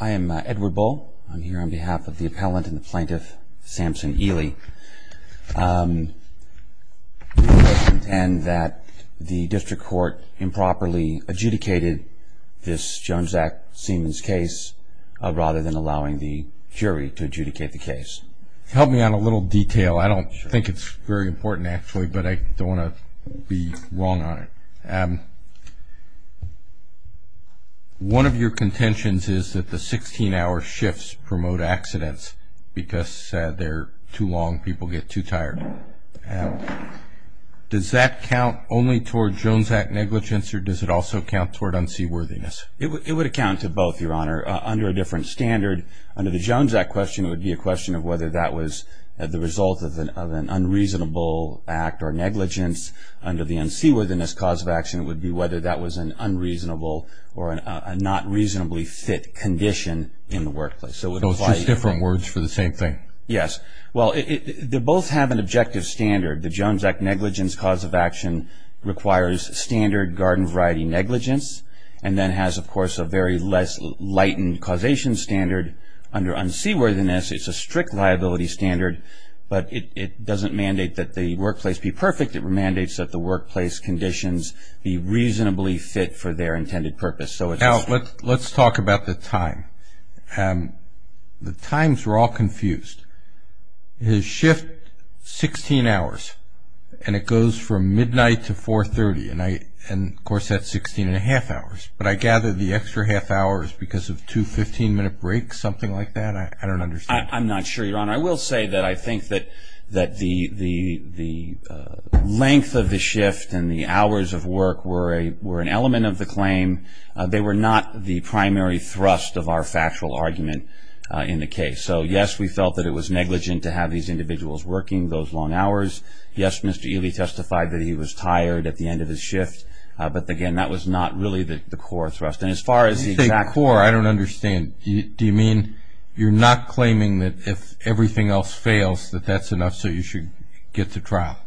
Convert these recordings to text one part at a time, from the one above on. I am Edward Bull. I'm here on behalf of the appellant and the plaintiff, Samson Ili. We intend that the district court improperly adjudicated this Jones Act Siemens case rather than allowing the jury to adjudicate the case. Help me on a little detail. I don't think it's very important actually, but I don't want to be wrong on it. One of your contentions is that the 16-hour shifts promote accidents because they're too long, people get too tired. Does that count only toward Jones Act negligence or does it also count toward unseaworthiness? It would account to both, Your Honor, under a different standard. Under the Jones Act question, it would be a question of whether that was the result of an unreasonable act or negligence. Under the unseaworthiness cause of action, it would be whether that was an unreasonable or a not reasonably fit condition in the workplace. Those are just different words for the same thing? Yes. Well, they both have an objective standard. The Jones Act negligence cause of action requires standard garden variety negligence and then has, of course, a very less lightened standard. Under unseaworthiness, it's a strict liability standard, but it doesn't mandate that the workplace be perfect. It mandates that the workplace conditions be reasonably fit for their intended purpose. Now, let's talk about the time. The times are all confused. The shift 16 hours and it goes from midnight to 4.30 and, of course, that's 16 and a half hours, but I gather the extra half hours because of two 15-minute breaks, something like that? I don't understand. I'm not sure, Your Honor. I will say that I think that the length of the shift and the hours of work were an element of the claim. They were not the primary thrust of our factual argument in the case. So, yes, we felt that it was negligent to have these individuals working those long hours. Yes, Mr. Ely testified that he was tired at the end of his shift, but, again, that was not really the core thrust. And as far as the exact core, I don't understand. Do you mean you're not claiming that if everything else fails that that's enough so you should get to trial?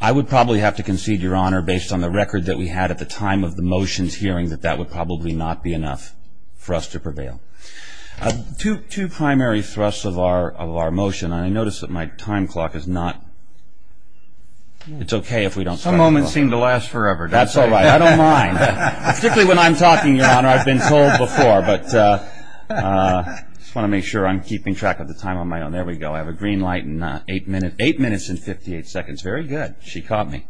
I would probably have to concede, Your Honor, based on the record that we had at the time of the motions hearing that that would probably not be enough for us to prevail. Two primary thrusts of our motion, and I notice that my time clock is not... It's okay if we don't... Some moments seem to last forever. That's all right. I don't mind, particularly when I'm talking, Your Honor. I've been told before, but I just want to make sure I'm keeping track of the time on my own. There we go. I have a green light in eight minutes and 58 seconds. Very good. She caught me.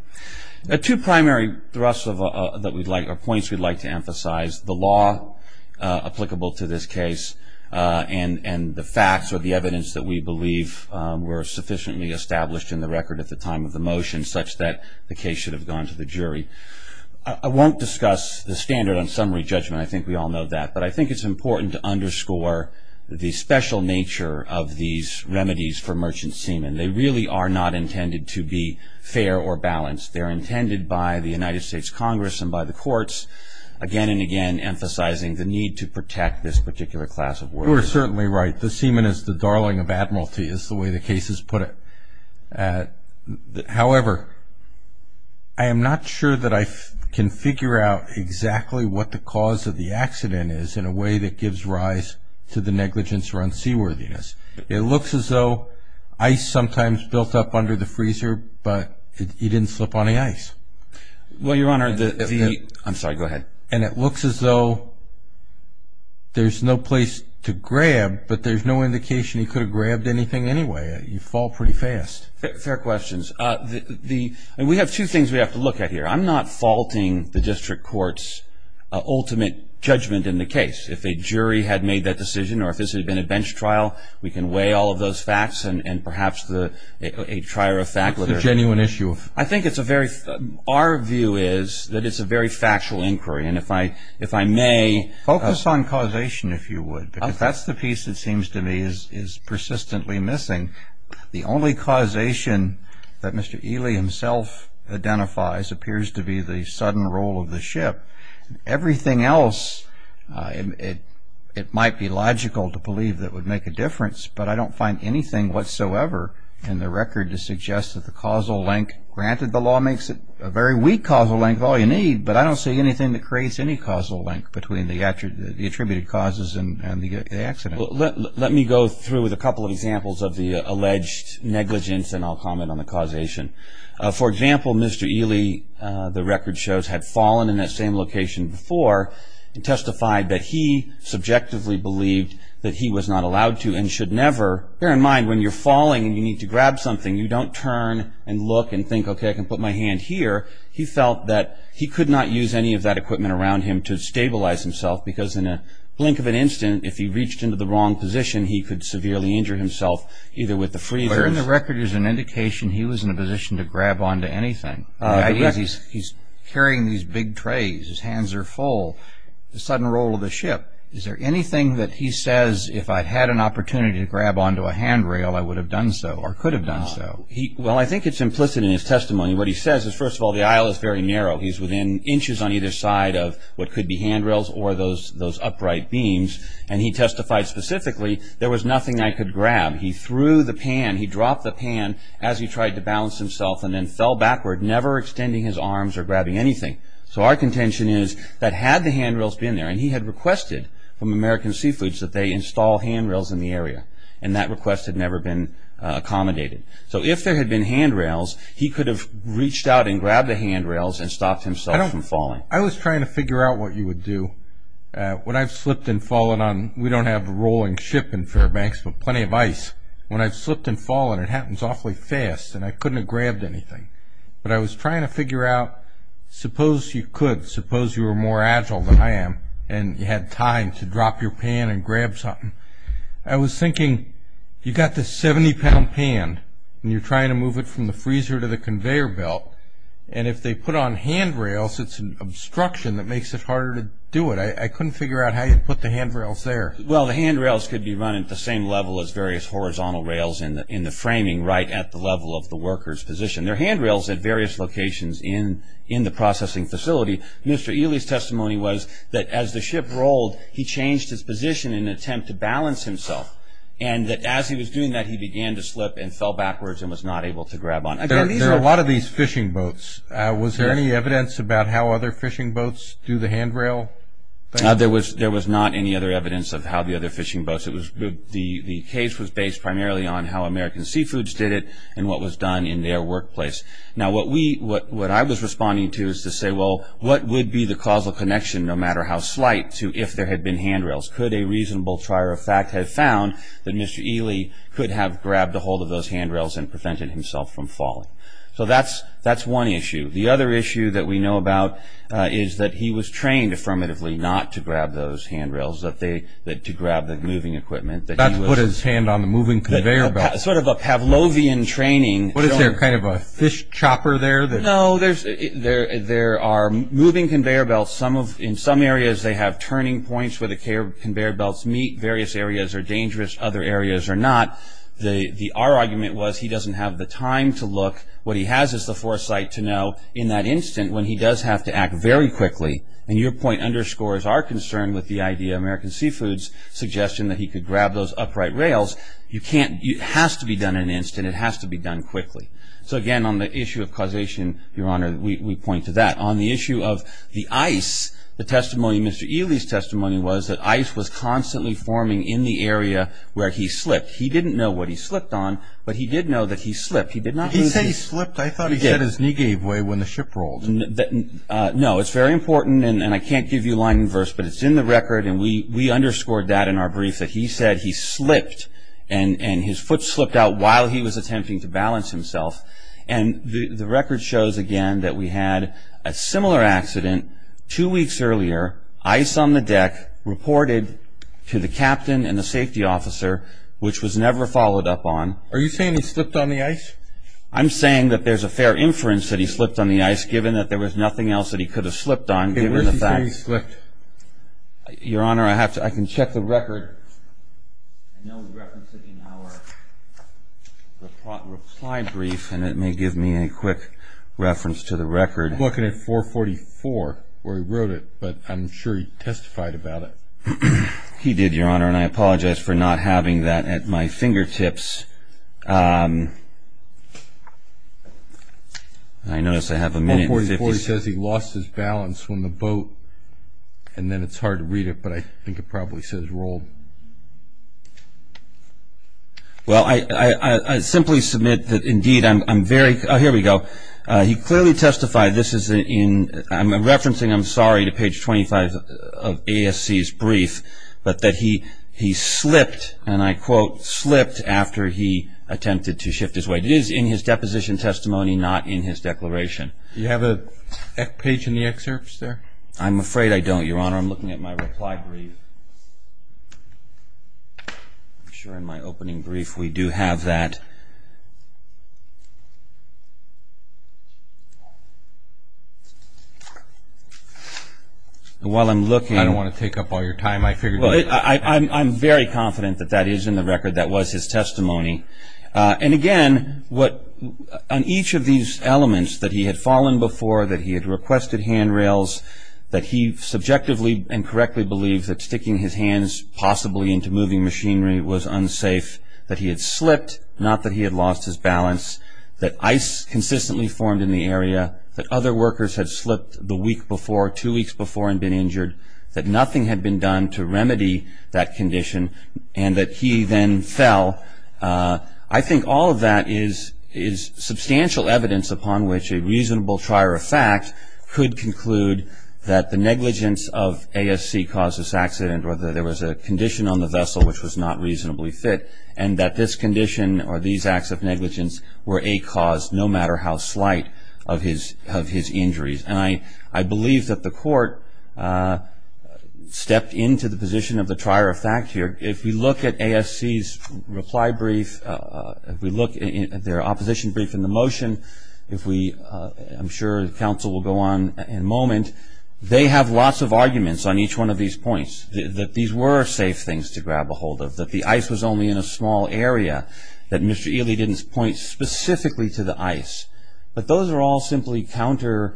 Two primary thrusts or points we'd like to emphasize, the law applicable to this case and the facts or the evidence that we believe were sufficiently established in the record at the time of the motion such that the case should have gone to the jury. I won't discuss the standard on summary judgment. I think we all know that, but I think it's important to underscore the special nature of these remedies for merchant semen. They really are not intended to be fair or balanced. They're intended by the United States Congress and by the courts, again and again, emphasizing the need to protect this particular class of water. You are certainly right. The semen is the darling of admiralty, is the way the case is put. However, I am not sure that I can figure out exactly what the cause of the accident is in a way that gives rise to the negligence or unseaworthiness. It looks as though ice sometimes built up under the freezer, but it didn't slip on the ice. Well, Your Honor, the... I'm sorry, and it looks as though there's no place to grab, but there's no indication he could have grabbed anything anyway. You fall pretty fast. Fair questions. We have two things we have to look at here. I'm not faulting the district court's ultimate judgment in the case. If a jury had made that decision or if this had been a bench trial, we can weigh all of those facts and perhaps a genuine issue. I think it's a very... Our view is that it's a very factual inquiry, and if I may... Focus on causation, if you would, because that's the piece that seems to me is persistently missing. The only causation that Mr. Ely himself identifies appears to be the sudden roll of the ship. Everything else, it might be logical to believe that would make a difference, but I don't find anything whatsoever in the record to suggest that the causal link... Granted, the law makes it a very weak causal link of all you need, but I don't see anything that creates any causal link between the attributed causes and the accident. Let me go through with a couple of examples of the alleged negligence, and I'll comment on the causation. For example, Mr. Ely, the record shows, had fallen in that same location before and testified that he subjectively believed that he was not allowed to and should never... Bear in mind, when you're falling and you need to grab something, you don't turn and look and think, okay, I can put my hand here. He felt that he could not use any of that equipment around him to stabilize himself, because in a blink of an instant, if he reached into the wrong position, he could severely injure himself, either with the freezers... But in the record, there's an indication he was in a position to grab onto anything. He's carrying these big trays, his hands are full, the sudden roll of the ship. Is there anything that he says, if I'd had an opportunity to grab onto a handrail, I would have done so, or could have done so? Well, I think it's implicit in his testimony. What he says is, first of all, the aisle is very narrow. He's within inches on either side of what could be handrails or those upright beams, and he testified specifically, there was nothing I could grab. He threw the pan, he dropped the pan as he tried to balance himself and then fell backward, never extending his arms or grabbing anything. So our requested from American Seafoods that they install handrails in the area, and that request had never been accommodated. So if there had been handrails, he could have reached out and grabbed the handrails and stopped himself from falling. I was trying to figure out what you would do when I've slipped and fallen on... We don't have a rolling ship in Fairbanks, but plenty of ice. When I've slipped and fallen, it happens awfully fast, and I couldn't have grabbed anything. But I was trying to figure out, suppose you could, suppose you were more agile than I am, and you had time to drop your pan and grab something. I was thinking, you've got this 70-pound pan, and you're trying to move it from the freezer to the conveyor belt, and if they put on handrails, it's an obstruction that makes it harder to do it. I couldn't figure out how you'd put the handrails there. Well, the handrails could be run at the same level as various horizontal rails in the framing, right at the level of the worker's position. There are handrails at various locations in the processing facility. Mr. Ely's testimony was that as the ship rolled, he changed his position in an attempt to balance himself, and that as he was doing that, he began to slip and fell backwards and was not able to grab on. There are a lot of these fishing boats. Was there any evidence about how other fishing boats do the handrail thing? There was not any other evidence of how the other fishing boats... The case was based primarily on how American Seafoods did it and what was done in their workplace. Now, what I was responding to is to say, well, what would be the causal connection, no matter how slight, to if there had been handrails? Could a reasonable trier of fact have found that Mr. Ely could have grabbed ahold of those handrails and prevented himself from falling? That's one issue. The other issue that we know about is that he was trained affirmatively not to grab those handrails, to grab the moving equipment. That's put his hand on the moving conveyor belt. Sort of a Pavlovian training. Is there a fish chopper there? No, there are moving conveyor belts. In some areas, they have turning points where the conveyor belts meet. Various areas are dangerous. Other areas are not. Our argument was he doesn't have the time to look. What he has is the foresight to know in that instant when he does have to act very quickly. Your point underscores our concern with the idea of American Seafood's suggestion that he could grab those upright rails. It has to be done in an instant. It has to be done quickly. So, again, on the issue of causation, Your Honor, we point to that. On the issue of the ice, the testimony, Mr. Ely's testimony was that ice was constantly forming in the area where he slipped. He didn't know what he slipped on, but he did know that he slipped. He did not lose his- He said he slipped. I thought he said his knee gave way when the ship rolled. No, it's very important, and I can't give you line and verse, but it's in the record, and we underscored that in our brief, that he said he slipped, and his foot slipped out while he was attempting to balance himself. And the record shows, again, that we had a similar accident two weeks earlier, ice on the deck, reported to the captain and the safety officer, which was never followed up on. Are you saying he slipped on the ice? I'm saying that there's a fair inference that he slipped on the ice, given that there was nothing else that he could have slipped on, given the fact- Okay, where's he saying he slipped? Your Honor, I have to- I can check the record. I know we referenced it in our reply brief, and it may give me a quick reference to the record. I'm looking at 444, where he wrote it, but I'm sure he testified about it. He did, Your Honor, and I apologize for not having that at my fingertips. I notice I have a minute and 50 seconds- 444, he says he lost his balance on the boat, and then it's hard to read it, but I think it probably says rolled. Well, I simply submit that, indeed, I'm very- Oh, here we go. He clearly testified, this is in- I'm referencing, I'm sorry, to page 25 of ASC's brief, but that he slipped, and I quote, slipped after he attempted to shift his weight. It is in his deposition testimony, not in his declaration. Do you have a page in the excerpts there? I'm afraid I don't, Your Honor. I'm looking at my reply brief. I'm sure in my opening brief, we do have that. While I'm looking- I don't want to take up all your time. I figured- I'm very confident that that is in the record. That was his testimony. And again, on each of these elements, that he had fallen before, that he had requested handrails, that he subjectively and correctly believed that sticking his hands possibly into moving machinery was unsafe, that he had slipped, not that he had lost his balance, that ice consistently formed in the area, that other workers had slipped the week before, two weeks before, and been injured, that nothing had been done to remedy that condition, and that he then fell. I think all of that is substantial evidence upon which a reasonable trier of fact could conclude that the negligence of ASC caused this accident, or that there was a condition on the vessel which was not reasonably fit, and that this condition, or these acts of negligence, were a cause, no matter how slight, of his injuries. And I believe that the court stepped into the position of the trier of fact here. If we look at ASC's reply brief, if we look at their opposition brief in the motion, if we- I'm sure counsel will go on in a moment. They have lots of arguments on each one of these points, that these were safe things to grab a area, that Mr. Ely didn't point specifically to the ice. But those are all simply counter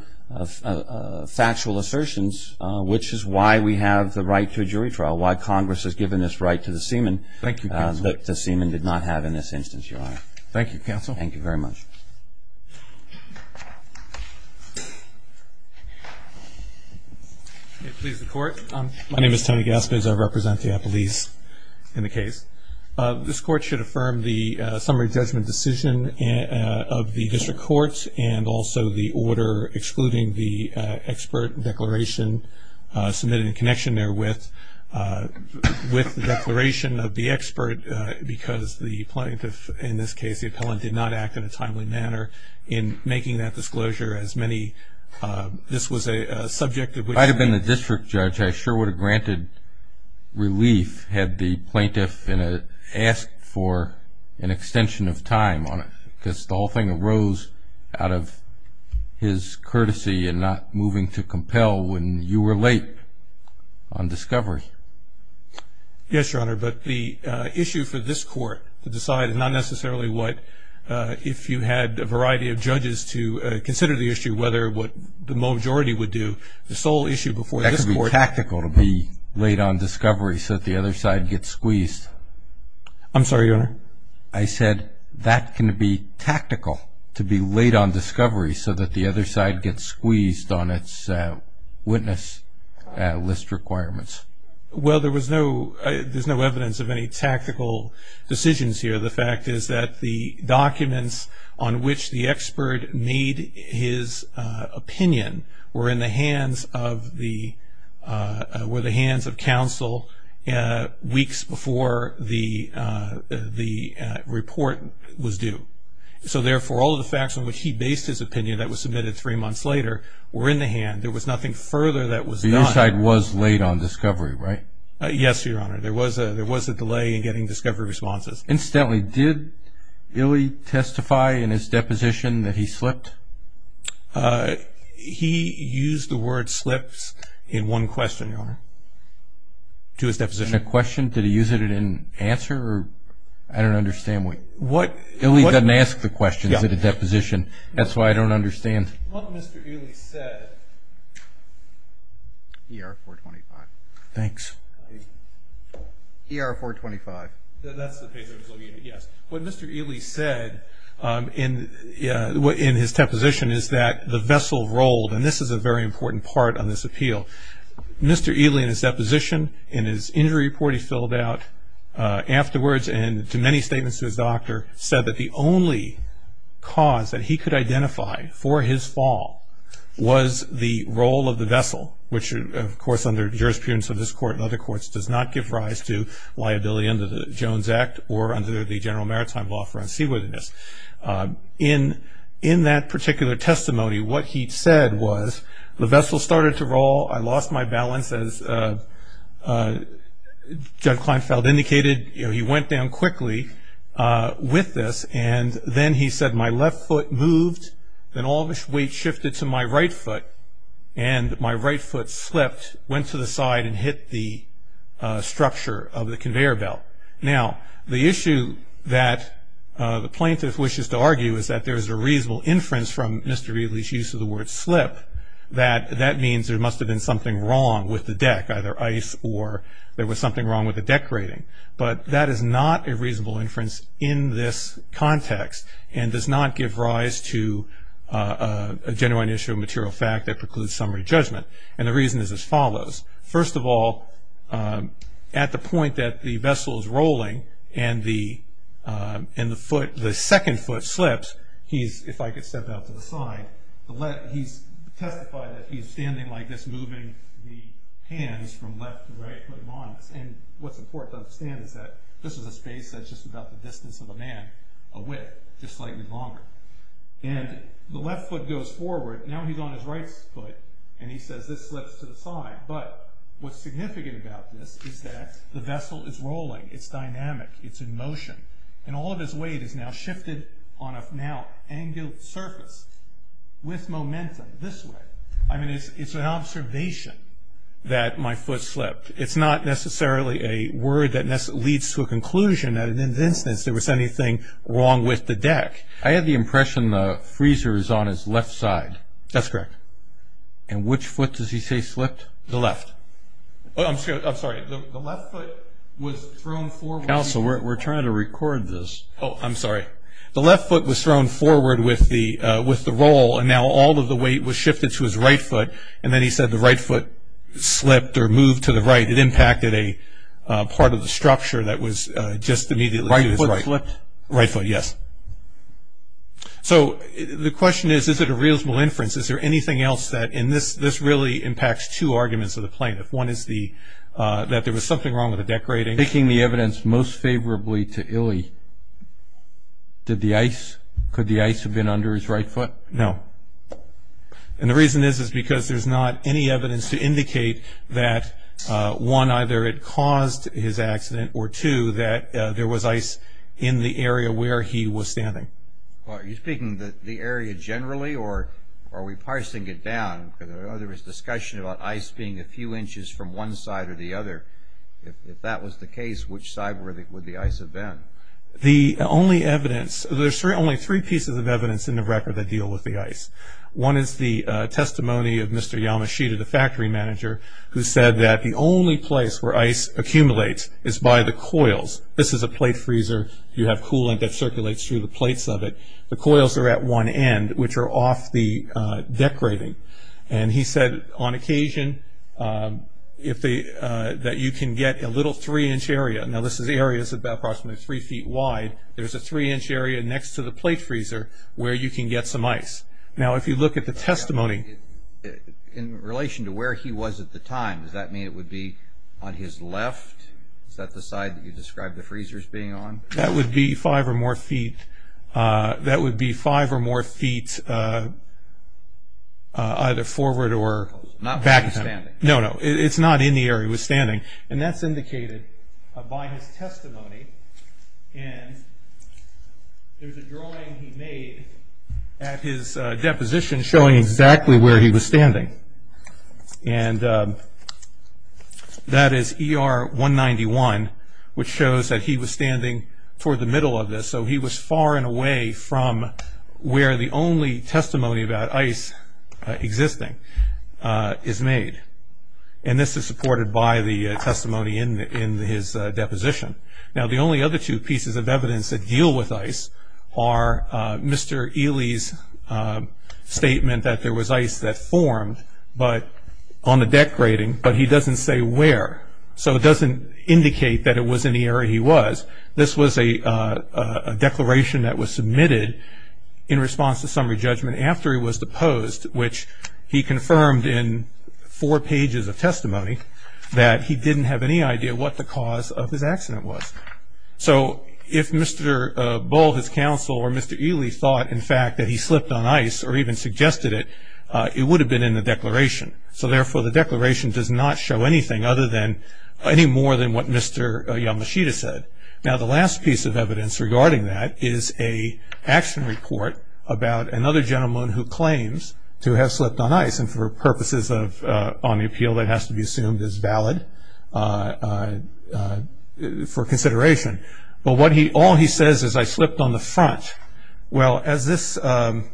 factual assertions, which is why we have the right to a jury trial, why Congress has given this right to the seaman, that the seaman did not have in this instance, your honor. Thank you, counsel. Thank you very much. May it please the court. My name is Tony Gaspis. I represent the police in the case. This court should affirm the summary judgment decision of the district court, and also the order excluding the expert declaration submitted in connection therewith, with the declaration of the expert, because the plaintiff, in this case the appellant, did not act in a timely manner in making that disclosure, as many- this was a subject of which- I'd have been the district judge. I sure would have granted relief had the plaintiff asked for an extension of time on it, because the whole thing arose out of his courtesy and not moving to compel when you were late on discovery. Yes, your honor. But the issue for this court to decide is not necessarily what, if you had a variety of judges to consider the issue, whether what the majority would do. The sole issue before this court- I'm sorry, your honor. I said that can be tactical, to be late on discovery so that the other side gets squeezed on its witness list requirements. Well, there was no- there's no evidence of any tactical decisions here. The fact is that the documents on which the expert made his opinion were in the hands of the- were the hands of counsel weeks before the report was due. So therefore, all of the facts on which he based his opinion that was submitted three months later were in the hand. There was nothing further that was done. The other side was late on discovery, right? Yes, your honor. There was a delay in getting discovery responses. Incidentally, did Illey testify in his deposition that he slipped? To his deposition? A question? Did he use it in an answer? I don't understand what- What- Illey doesn't ask the questions in a deposition. That's why I don't understand. What Mr. Ely said- ER 425. Thanks. ER 425. That's the page I was looking at, yes. What Mr. Ely said in his deposition is that the vessel rolled, and this is a very important part on this appeal. Mr. Ely in his deposition, in his injury report he filled out afterwards, and to many statements to his doctor, said that the only cause that he could identify for his fall was the roll of the vessel, which of course under jurisprudence of this court and other courts does not give rise to liability under the Jones Act or under the general maritime law for unseaworthiness. In that particular testimony, what he said was, the vessel started to roll, I lost my balance as Doug Kleinfeld indicated. He went down quickly with this, and then he said, my left foot moved, then all this weight shifted to my right foot, and my right foot slipped, went to the side, and hit the structure of the conveyor belt. Now, the issue that the plaintiff wishes to argue is that there's a reasonable inference from Mr. Ely's use of the word slip, that that means there must have been something wrong with the deck, either ice or there was something wrong with the deck rating. But that is not a reasonable inference in this context, and does not give rise to a genuine issue of material fact that precludes summary judgment, and the reason is as follows. First of all, at the point that the vessel is rolling, and the second foot slips, he's, if I could step out to the side, he's testified that he's standing like this, moving the hands from left to right, and what's important to understand is that this is a space that's just about the distance of a man, a width, just slightly longer, and the left foot goes forward, now he's on his right foot, and he says this slips to the side, but what's significant about this is that the vessel is rolling, it's dynamic, it's in motion, and all of his weight is now shifted on a now angled surface with momentum this way. I mean, it's an observation that my foot slipped. It's not necessarily a word that leads to a conclusion that in this instance there was anything wrong with the deck. I had the impression the freezer is on his left side. That's correct. And which foot does he say slipped? The left. I'm sorry, the left foot was thrown forward. Counsel, we're trying to record this. Oh, I'm sorry. The left foot was thrown forward with the roll, and now all of the weight was shifted to his right foot, and then he said the right foot slipped or moved to the right. It impacted a part of the structure that was just immediately to his right. Right foot slipped? Right foot, yes. So the question is, is it a reasonable inference? Is there anything else that in this, this really impacts two arguments of the plaintiff. One is the, that there was something wrong with the deck rating. Taking the evidence most favorably to Illey, did the ice, could the ice have been under his right foot? No. And the reason is, is because there's not any evidence to area where he was standing. Are you speaking the area generally, or are we parsing it down? Because I know there was discussion about ice being a few inches from one side or the other. If that was the case, which side would the ice have been? The only evidence, there's only three pieces of evidence in the record that deal with the ice. One is the testimony of Mr. Yamashita, the factory manager, who said that the only place where ice accumulates is by the coils. This is a plate freezer. You have coolant that circulates through the plates of it. The coils are at one end, which are off the deck rating. And he said on occasion, if they, that you can get a little three inch area. Now this area is about approximately three feet wide. There's a three inch area next to the plate freezer where you can get some ice. Now if you look at the testimony, in relation to where he was at the time, does that mean it would be on his left? Is that the side that you described the freezers being on? That would be five or more feet. That would be five or more feet either forward or back. Not where he was standing? No, no. It's not in the area he was standing. And that's indicated by his testimony. And there's a drawing he made at his deposition showing exactly where he was standing. And that is ER 191, which shows that he was standing toward the middle of this. So he was far and away from where the only testimony about ice existing is made. And this is supported by the testimony in his deposition. Now the only other two pieces of evidence that deal with ice are Mr. Ely's statement that there was ice that formed on the deck grading, but he doesn't say where. So it doesn't indicate that it was in the area he was. This was a declaration that was submitted in response to summary judgment after he was deposed, which he confirmed in four pages of testimony that he didn't have any idea what the cause of his accident was. So if Mr. Bull or Mr. Ely thought in fact that he slipped on ice or even suggested it, it would have been in the declaration. So therefore the declaration does not show anything other than, any more than what Mr. Yamashita said. Now the last piece of evidence regarding that is a action report about another gentleman who claims to have slipped on ice and for purposes of, on the appeal that has to be assumed as valid for consideration. But what he, all he says is I slipped on the front. Well as this, during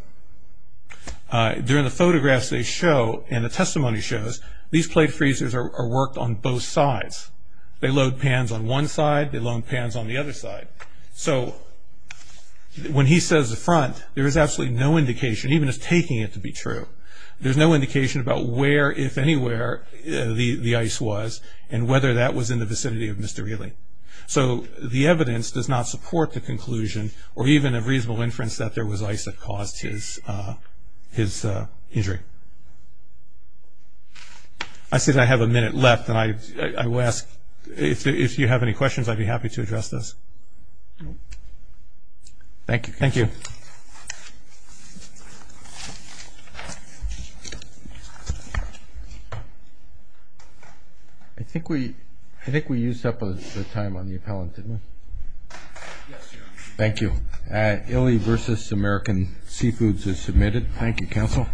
the photographs they show and the testimony shows, these plate freezers are worked on both sides. They load pans on one side, they load pans on the other side. So when he says the front, there is absolutely no indication, even as taking it to be true, there's no indication about where, if anywhere, the ice was and whether that was in the vicinity of Mr. Ely. So the evidence does not support the conclusion or even a reasonable inference that there was ice that caused his injury. I see that I have a minute left and I will ask, if you have any questions, I'd be happy to address this. Thank you. Thank you. I think we, I think we used up the time on the appellant, didn't we? Thank you. Ely versus American Seafoods is submitted. Thank you, counsel.